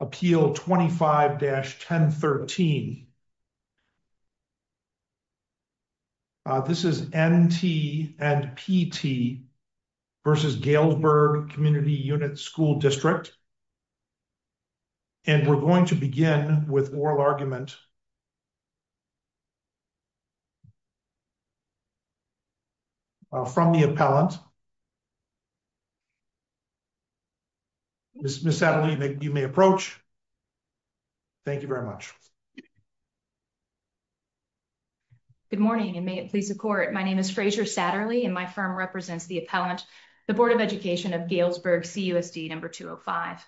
Appeal 25-1013. This is N. T. and P. T. v. Galesburg Community Unit School District, and we're going to begin with oral argument from the appellant. Ms. Satterley, you may approach. Thank you very much. Good morning, and may it please the Court. My name is Frazier Satterley, and my firm represents the appellant, the Board of Education of Galesburg CUSD No. 205.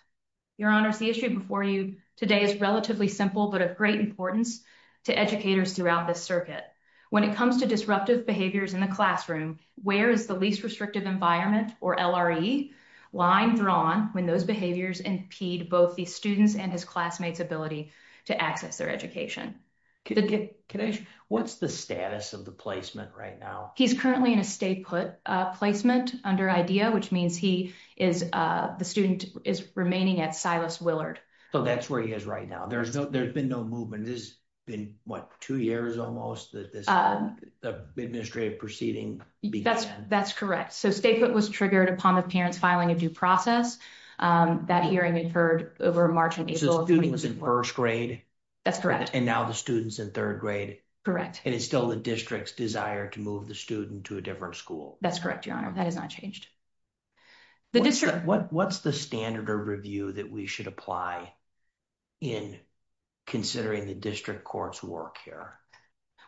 Your Honors, the issue before you today is relatively simple but of great importance to educators throughout this circuit. When it comes to disruptive behaviors in the classroom, where is the least restrictive environment, or LRE, line drawn when those behaviors impede both the student's and his classmate's ability to access their education? What's the status of the placement right now? He's currently in a stay-put placement under IDEA, which means the student is remaining at Silas Willard. So that's where he is right now. There's been no movement. This has been, what, two years almost, this administrative proceeding? That's correct. So stay-put was triggered upon the parents filing a due process. That hearing occurred over March and April. So the student was in first grade? That's correct. And now the student's in third grade? Correct. And it's still the district's desire to move the student to a different school? That's correct, Your Honor. That has not changed. What's the standard of review that we should apply in considering the district court's work here?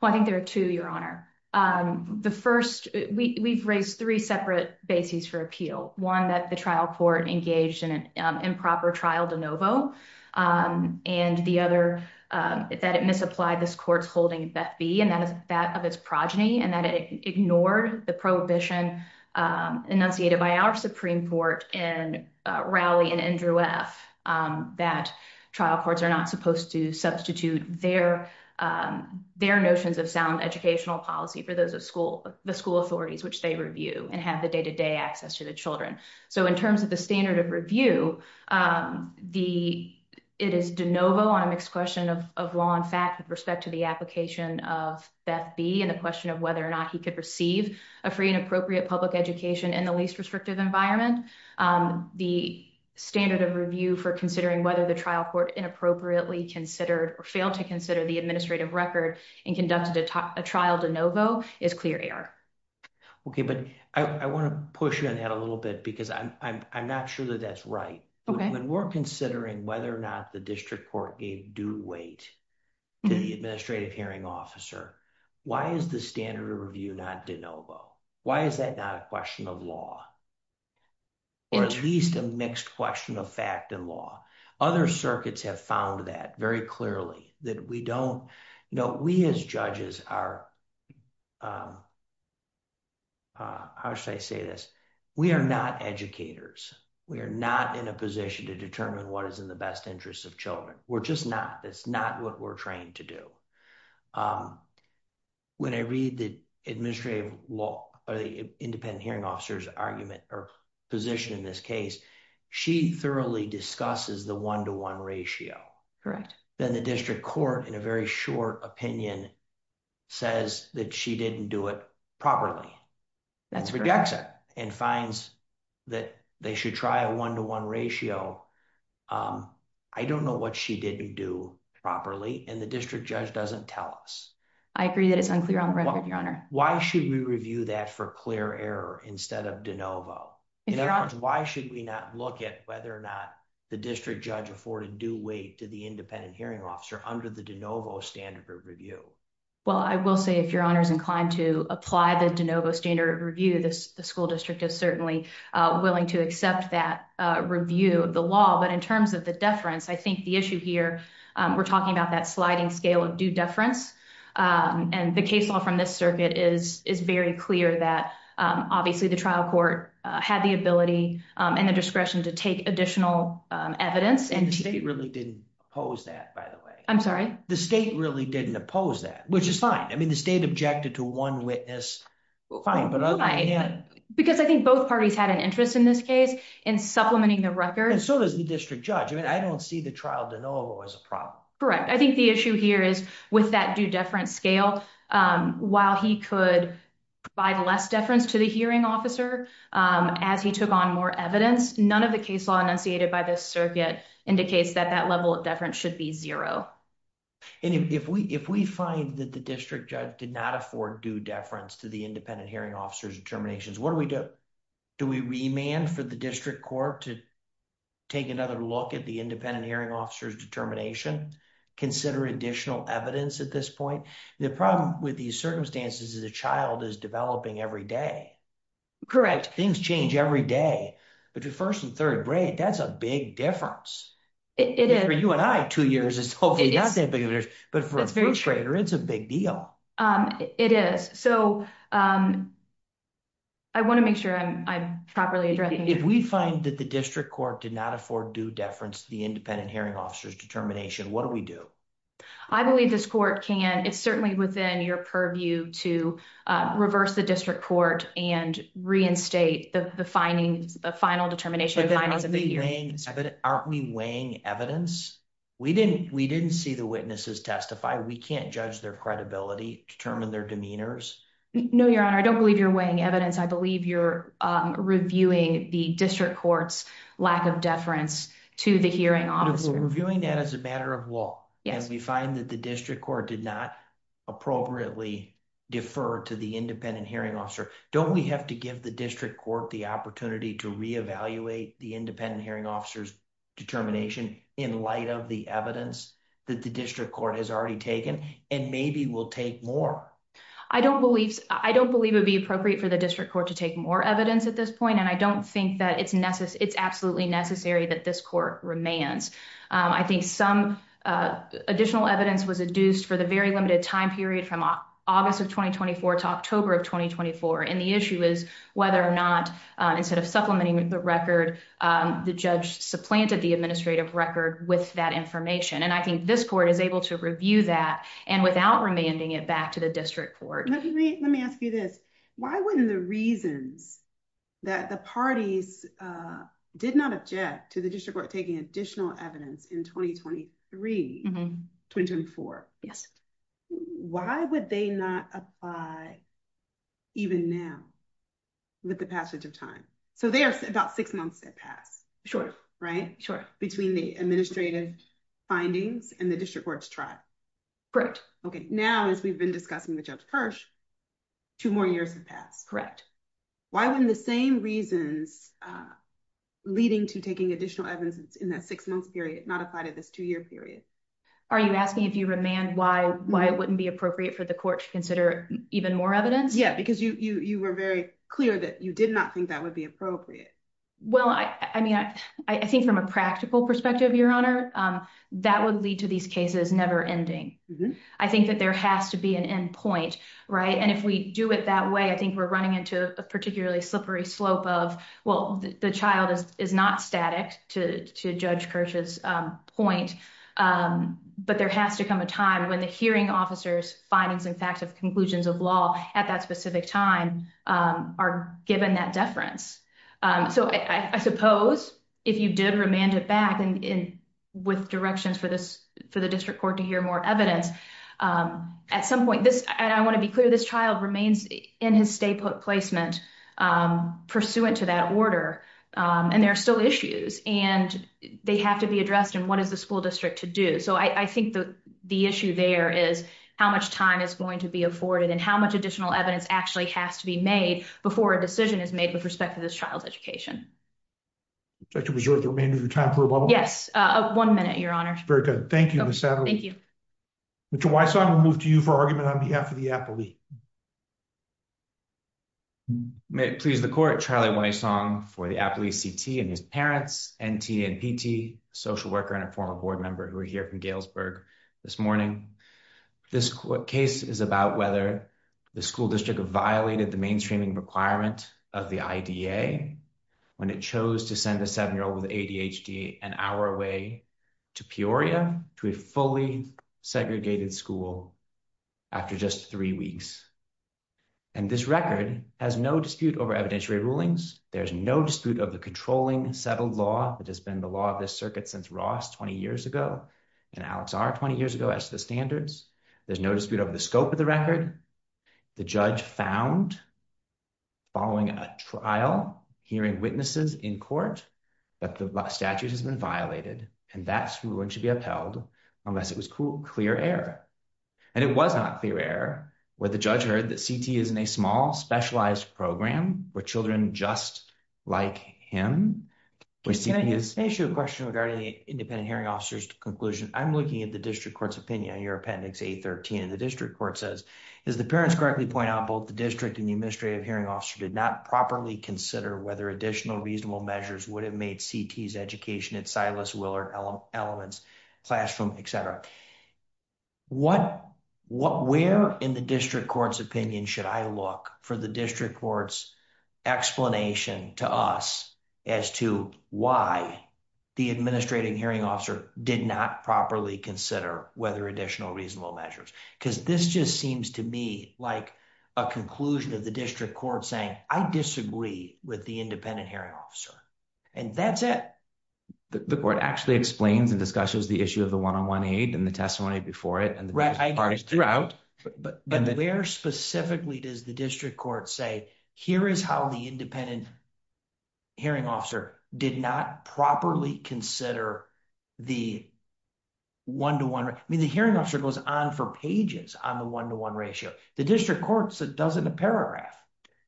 Well, I think there are two, Your Honor. The first, we've raised three separate bases for appeal. One, that the trial court engaged in an improper trial de novo. And the other, that it misapplied this court's holding of Beth Bee, and that of its progeny, and that it ignored the prohibition enunciated by our Supreme Court in Rowley and Andrew F. That trial courts are not supposed to substitute their notions of sound educational policy for those of the school authorities, which they review, and have the day-to-day access to the children. So in terms of the standard of review, it is de novo on a mixed question of law and fact with respect to the application of Beth Bee, and the question of whether or not he could receive a free and appropriate public education in the least restrictive environment. The standard of review for considering whether the trial court inappropriately considered or failed to consider the administrative record and conducted a trial de novo is clear error. Okay, but I want to push you on that a little bit, because I'm not sure that that's right. When we're considering whether or not the district court gave due weight to the administrative hearing officer, why is the standard of review not de novo? Why is that not a question of law? Or at least a mixed question of fact and law. Other circuits have found that very clearly, that we don't, you know, we as judges are, how should I say this? We are not educators. We are not in a position to determine what is in the best interest of children. We're just not. That's not what we're trained to do. When I read the administrative law, or the independent hearing officer's argument or position in this case, she thoroughly discusses the one-to-one ratio. Then the district court, in a very short opinion, says that she didn't do it properly. That's correct. Rejects it and finds that they should try a one-to-one ratio. I don't know what she didn't do properly, and the district judge doesn't tell us. I agree that it's unclear on record, your honor. Why should we review that for clear error instead of de novo? In other words, why should we not look at whether or not the district judge afforded due weight to the independent hearing officer under the de novo standard of review? Well, I will say if your honor is inclined to apply the de novo standard of review, the school district is certainly willing to accept that review of the law. But in terms of the deference, I think the issue here, we're talking about that sliding scale of due deference. And the case law from this circuit is very clear that obviously the trial court had the ability and the discretion to take additional evidence. And the state really didn't oppose that, by the way. I'm sorry? The state really didn't oppose that, which is fine. I mean, the state objected to one witness. Fine, but other than that- Because I think both parties had an interest in this case, in supplementing the record. So does the district judge. I don't see the trial de novo as a problem. Correct. I think the issue here is with that due deference scale, while he could provide less deference to the hearing officer as he took on more evidence, none of the case law enunciated by this circuit indicates that that level of deference should be zero. And if we find that the district judge did not afford due deference to the independent hearing officer's determinations, what do we do? Do we remand for the district court to take another look at the independent hearing officer's determination? Consider additional evidence at this point? The problem with these circumstances is a child is developing every day. Correct. Things change every day. But your first and third grade, that's a big difference. For you and I, two years is hopefully not that big of a difference. But for a first grader, it's a big deal. It is. So I want to make sure I'm properly addressing this. If we find that the district court did not afford due deference to the independent hearing officer's determination, what do we do? I believe this court can. It's certainly within your purview to reverse the district court and reinstate the findings, the final determination of findings of the hearing. Aren't we weighing evidence? We didn't see the witnesses testify. We can't judge their credibility, determine their demeanors. No, your honor, I don't believe you're weighing evidence. I believe you're reviewing the district court's lack of deference to the hearing officer. We're reviewing that as a matter of law. Yes. We find that the district court did not appropriately defer to the independent hearing officer. Don't we have to give the district court the opportunity to re-evaluate the independent hearing officer's determination in light of the evidence that the district court has already taken? And maybe we'll take more. I don't believe it would be appropriate for the district court to take more evidence at this point. And I don't think that it's absolutely necessary that this court remands. I think some additional evidence was adduced for the very limited time period from August of 2024 to October of 2024. And the issue is whether or not, instead of supplementing the record, the judge supplanted the administrative record with that information. And I think this court is able to review that and without remanding it back to the district court. Let me ask you this. Why wouldn't the reasons that the parties did not object to the district court taking additional evidence in 2023, 2024? Yes. Why would they not apply even now with the passage of time? So there's about six months that pass. Sure. Right? Sure. Between the administrative findings and the district court's trial. Correct. Now, as we've been discussing with Judge Kirsch, two more years have passed. Why wouldn't the same reasons leading to taking additional evidence in that six months period not apply to this two-year period? Are you asking if you remand why it wouldn't be appropriate for the court to consider even more evidence? Yeah, because you were very clear that you did not think that would be appropriate. Well, I mean, I think from a practical perspective, Your Honor, that would lead to these cases never ending. I think that there has to be an end point, right? And if we do it that way, I think we're running into a particularly slippery slope of, well, the child is not static to Judge Kirsch's point, but there has to come a time when the hearing officers' findings and facts of conclusions of law at that specific time are given that deference. So I suppose if you did remand it back with directions for the district court to hear more evidence, at some point, and I want to be clear, this child remains in his stay placement pursuant to that order, and there are still issues, and they have to be addressed, and what is the school district to do? So I think the issue there is how much time is going to be afforded and how much additional evidence actually has to be made before a decision is made with respect to this child's education. Would you like to reserve the remainder of your time for a bubble? Yes, one minute, Your Honor. Very good. Thank you, Ms. Sadler. Thank you. Mr. Wysong, we'll move to you for argument on behalf of the Appley. May it please the court, Charlie Wysong for the Appley CT and his parents, NT and PT, a social worker and a former board member who are here from Galesburg this morning. This case is about whether the school district violated the mainstreaming requirement of the IDA when it chose to send a seven-year-old with ADHD an hour away to Peoria, to a fully segregated school, after just three weeks. And this record has no dispute over evidentiary rulings. There's no dispute of the controlling settled law that has been the law of this circuit since Ross 20 years ago and Alex R 20 years ago as to the standards. There's no dispute over the scope of the record. The judge found following a trial, hearing witnesses in court, that the statute has been violated and that's when it should be upheld unless it was clear error. And it was not clear error where the judge heard that CT is in a small, specialized program where children just like him. Can I ask you a question regarding the independent hearing officer's conclusion? I'm looking at the district court's opinion on your appendix A13. And the district court says, as the parents correctly point out, both the district and the administrative hearing officer did not properly consider whether additional reasonable measures would have made CT's education at Silas, Willard Elements, classroom, et cetera. Where in the district court's opinion should I look for the district court's explanation to us as to why the administrating hearing officer did not properly consider whether additional reasonable measures? Because this just seems to me like a conclusion of the district court saying, I disagree with the independent hearing officer and that's it. The court actually explains and discusses the issue of the one-on-one aid and the testimony before it and the parties throughout. But where specifically does the district court say, here is how the independent hearing officer did not properly consider the one-to-one? I mean, the hearing officer goes on for pages on the one-to-one ratio. The district court does it in a paragraph.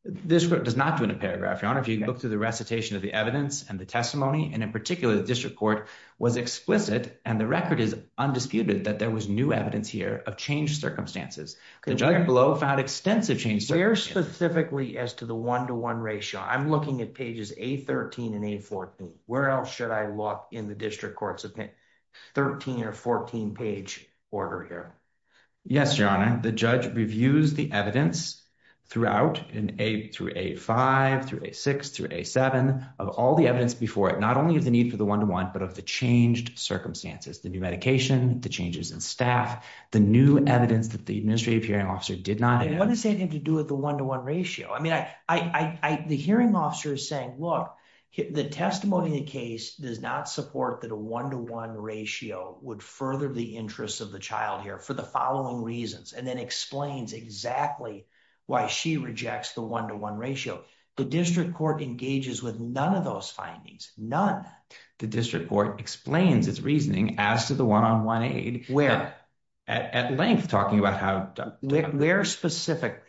The district court does not do it in a paragraph, Your Honor. If you look through the recitation of the evidence and the testimony, and in particular, the district court was explicit, and the record is undisputed that there was new evidence here of changed circumstances. The judge below found extensive change. Very specifically as to the one-to-one ratio. I'm looking at pages A13 and A14. Where else should I look in the district court's 13 or 14 page order here? Yes, Your Honor. The judge reviews the evidence throughout, through A5, through A6, through A7, of all the evidence before it, not only of the need for the one-to-one, but of the changed circumstances. The new medication, the changes in staff, the new evidence that the administrative hearing officer did not add. What does that have to do with the one-to-one ratio? The hearing officer is saying, look, the testimony in the case does not support that a one-to-one ratio would further the interests of the child here for the following reasons, and then explains exactly why she rejects the one-to-one ratio. The district court engages with none of those findings. None. The district court explains its reasoning as to the one-on-one aid. Where? At length, talking about how... There specifically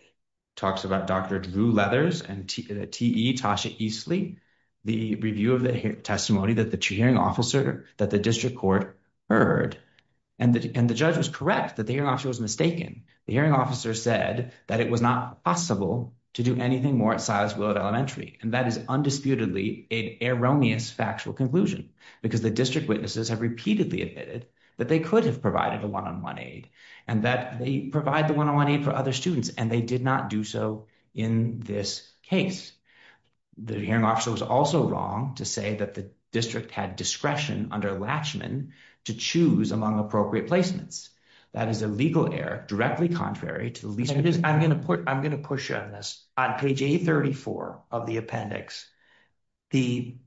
talks about Dr. Drew Leathers and T.E., Tasha Eastley, the review of the testimony that the hearing officer, that the district court heard, and the judge was correct that the hearing officer was mistaken. The hearing officer said that it was not possible to do anything more at Silas Willard Elementary, and that is undisputedly an erroneous factual conclusion, because the district witnesses have repeatedly admitted that they could have provided a one-on-one aid, and that they provide the one-on-one aid for other students, and they did not do so in this case. The hearing officer was also wrong to say that the district had discretion under Latchman to choose among appropriate placements. That is a legal error directly contrary to the... I'm going to push on this. On page 834 of the appendix, the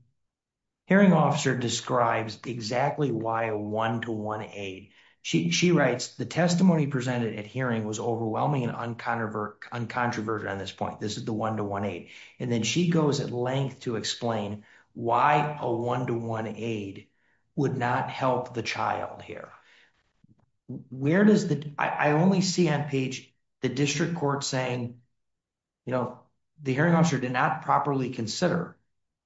hearing officer describes exactly why a one-to-one aid. She writes, the testimony presented at hearing was overwhelming and uncontroversial on this point. This is the one-to-one aid. And then she goes at length to explain why a one-to-one aid would not help the child here. Where does the... I only see on page, the district court saying, the hearing officer did not properly consider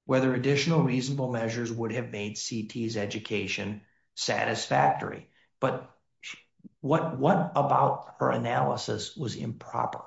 whether additional reasonable measures would have made C.T.'s education satisfactory. But what about her analysis was improper?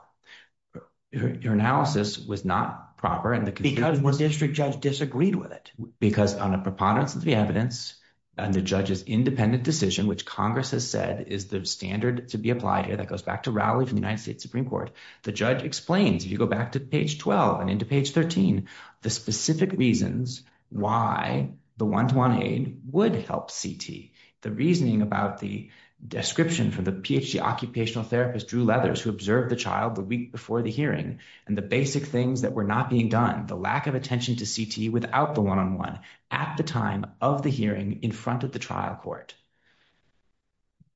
Her analysis was not proper. And the district judge disagreed with it. Because on a preponderance of the evidence, and the judge's independent decision, which Congress has said is the standard to be applied here, that goes back to Rowley from the United States Supreme Court. The judge explains, if you go back to page 12 and into page 13, the specific reasons why the one-to-one aid would help C.T. The reasoning about the description from the PhD occupational therapist, Drew Leathers, who observed the child the week before the hearing, and the basic things that were not being done, the lack of attention to C.T. without the one-on-one at the time of the hearing in front of the trial court.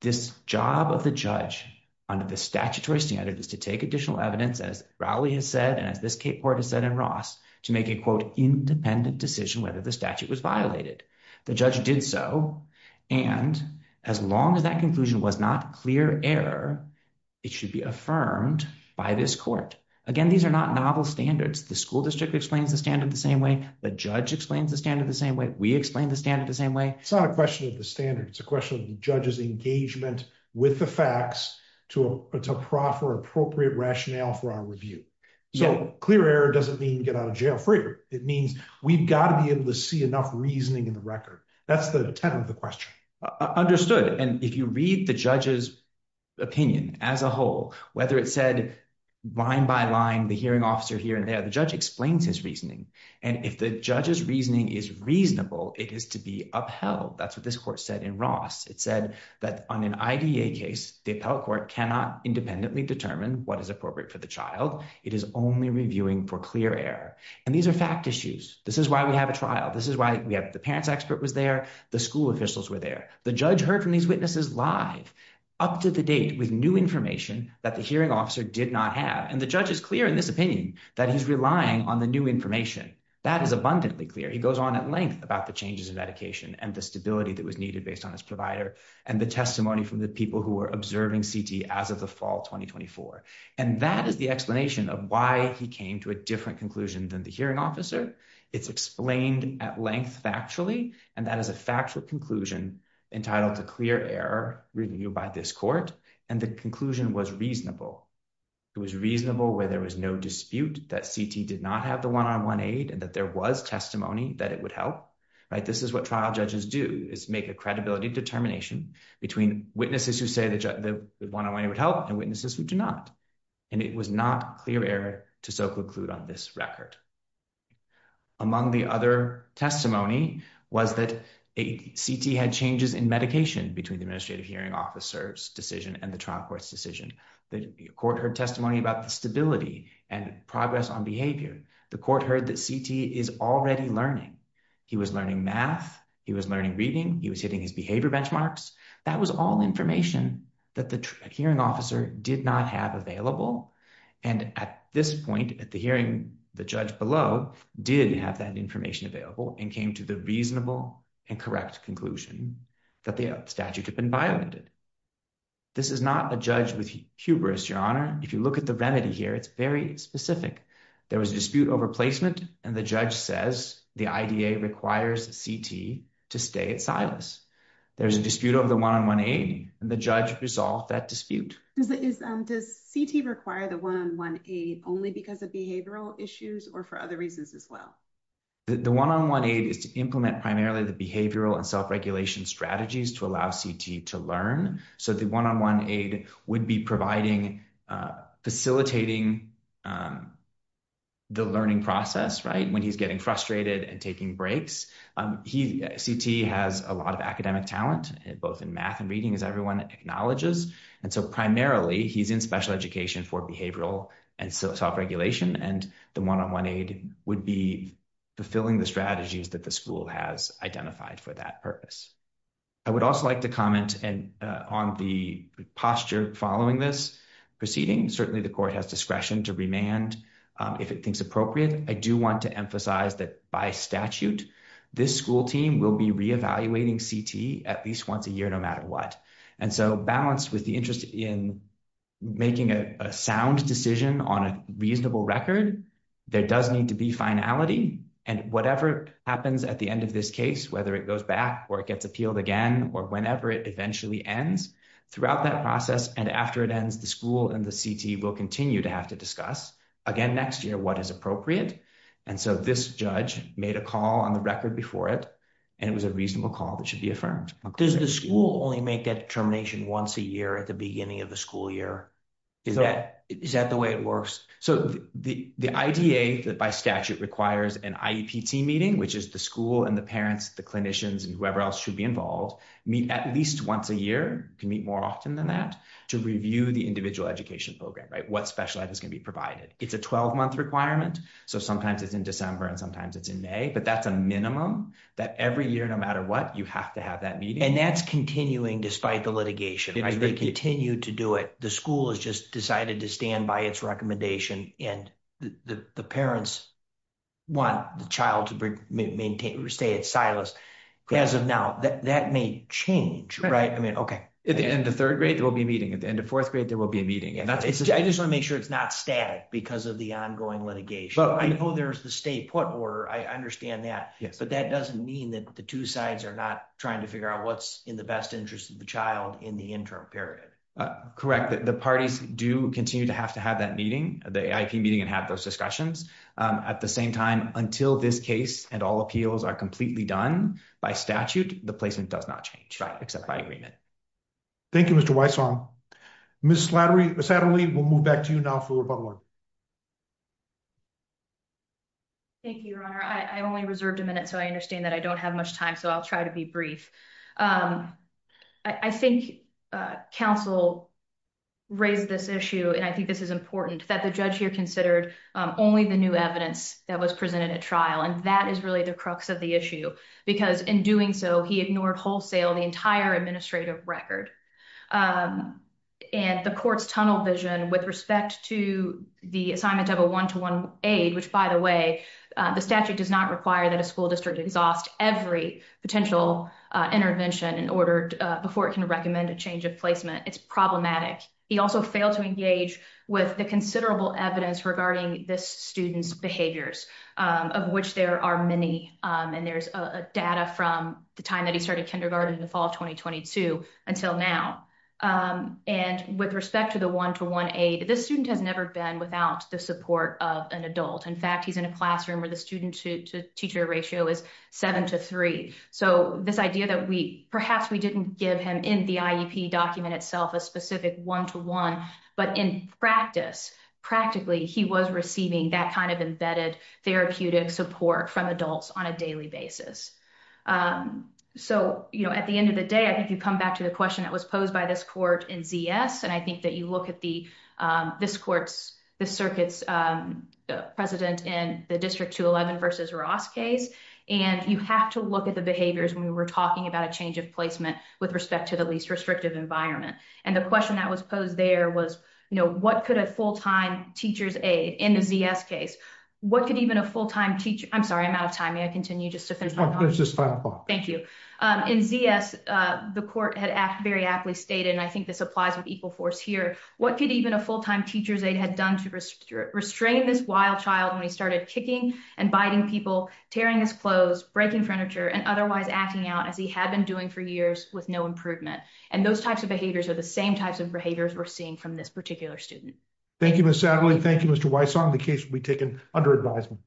This job of the judge under the statutory standard is to take additional evidence as Rowley has said, and as this court has said in Ross, to make a quote, independent decision whether the statute was violated. The judge did so, and as long as that conclusion was not clear error, it should be affirmed by this court. Again, these are not novel standards. The school district explains the standard the same way. The judge explains the standard the same way. We explain the standard the same way. It's not a question of the standard. It's a question of the judge's engagement with the facts to proffer appropriate rationale for our review. So clear error doesn't mean get out of jail free. It means we've got to be able to see enough reasoning in the record. That's the tenet of the question. Understood. And if you read the judge's opinion as a whole, whether it said line by line, the hearing officer here and there, the judge explains his reasoning. And if the judge's reasoning is reasonable, it is to be upheld. That's what this court said in Ross. It said that on an IDA case, the appellate court cannot independently determine what is appropriate for the child. It is only reviewing for clear error. And these are fact issues. This is why we have a trial. This is why we have the parents expert was there. The school officials were there. The judge heard from these witnesses live up to the date with new information that the hearing officer did not have. And the judge is clear in this opinion that he's relying on the new information. That is abundantly clear. He goes on at length about the changes in medication and the stability that was needed based on his provider and the testimony from the people who were observing CT as of the fall 2024. And that is the explanation of why he came to a different conclusion than the hearing officer. It's explained at length factually. And that is a factual conclusion entitled to clear error reviewed by this court. And the conclusion was reasonable. It was reasonable where there was no dispute that CT did not have the one-on-one aid and that there was testimony that it would help. Right, this is what trial judges do is make a credibility determination between witnesses who say the one-on-one aid would help and witnesses who do not. And it was not clear error to soak a clue on this record. Among the other testimony was that CT had changes in medication between the administrative hearing officer's decision and the trial court's decision. The court heard testimony about the stability and progress on behavior. The court heard that CT is already learning. He was learning math. He was learning reading. He was hitting his behavior benchmarks. That was all information that the hearing officer did not have available. And at this point at the hearing, the judge below did have that information available and came to the reasonable and correct conclusion that the statute had been violated. This is not a judge with hubris, Your Honor. If you look at the remedy here, it's very specific. There was a dispute over placement. And the judge says the IDA requires CT to stay at Silas. There's a dispute over the one-on-one aid and the judge resolved that dispute. Does CT require the one-on-one aid only because of behavioral issues or for other reasons as well? The one-on-one aid is to implement primarily the behavioral and self-regulation strategies to allow CT to learn. So the one-on-one aid would be providing, facilitating the learning process, right? When he's getting frustrated and taking breaks. CT has a lot of academic talent, both in math and reading as everyone acknowledges. And so primarily he's in special education for behavioral and self-regulation. And the one-on-one aid would be fulfilling the strategies that the school has identified for that purpose. I would also like to comment on the posture following this proceeding. Certainly the court has discretion to remand if it thinks appropriate. I do want to emphasize that by statute, this school team will be reevaluating CT at least once a year, no matter what. And so balanced with the interest in making a sound decision on a reasonable record, there does need to be finality. And whatever happens at the end of this case, whether it goes back or it gets appealed again, or whenever it eventually ends, throughout that process and after it ends, the school and the CT will continue to have to discuss again next year what is appropriate. And so this judge made a call on the record before it and it was a reasonable call that should be affirmed. Does the school only make that determination once a year at the beginning of the school year? Is that the way it works? So the IDA that by statute requires an IEP team meeting, which is the school and the parents, the clinicians and whoever else should be involved, meet at least once a year, can meet more often than that to review the individual education program, right? What special ed is going to be provided. It's a 12 month requirement. So sometimes it's in December and sometimes it's in May, but that's a minimum that every year, no matter what you have to have that meeting. And that's continuing despite the litigation. They continue to do it. The school has just decided to stand by its recommendation and the parents want the child to stay at Silas as of now. That may change, right? I mean, okay. At the end of third grade, there will be a meeting. At the end of fourth grade, there will be a meeting. And I just want to make sure it's not static because of the ongoing litigation. I know there's the stay put order. I understand that. But that doesn't mean that the two sides are not trying to figure out what's in the best interest of the child in the interim period. The parties do continue to have to have that meeting, the AIP meeting and have those discussions. At the same time, until this case and all appeals are completely done by statute, the placement does not change except by agreement. Thank you, Mr. Weisshoff. Ms. Adderley, we'll move back to you now for rebuttal. Thank you, your honor. I only reserved a minute. So I understand that I don't have much time. So I'll try to be brief. I think counsel raised this issue. And I think this is important that the judge here considered only the new evidence that was presented at trial. And that is really the crux of the issue. Because in doing so, he ignored wholesale the entire administrative record. And the court's tunnel vision with respect to the assignment of a one-to-one aid, which by the way, the statute does not require that a school district exhaust every potential intervention in order before it can recommend a change of placement. It's problematic. He also failed to engage with the considerable evidence regarding this student's behaviors, of which there are many. And there's data from the time that he started kindergarten in the fall of 2022 until now. And with respect to the one-to-one aid, this student has never been without the support of an adult. In fact, he's in a classroom where the student to teacher ratio is seven to three. So this idea that we, perhaps we didn't give him in the IEP document itself, a specific one-to-one, but in practice, practically he was receiving that kind of embedded therapeutic support from adults on a daily basis. So at the end of the day, I think you come back to the question that was posed by this court in ZS. And I think that you look at this court's, the circuit's president in the District 211 versus Ross case, and you have to look at the behaviors when we were talking about a change of placement with respect to the least restrictive environment. And the question that was posed there was, you know, what could a full-time teacher's aid in the ZS case? What could even a full-time teacher, I'm sorry, I'm out of time. May I continue just to finish my- No, please, just five more. Thank you. In ZS, the court had very aptly stated, and I think this applies with equal force here. What could even a full-time teacher's aid had done to restrain this wild child when he started kicking and biting people, tearing his clothes, breaking furniture, and otherwise acting out as he had been doing for years with no improvement. And those types of behaviors are the same types of behaviors we're seeing from this particular student. Thank you, Ms. Satterley. Thank you, Mr. Wysong. The case will be taken under advisement.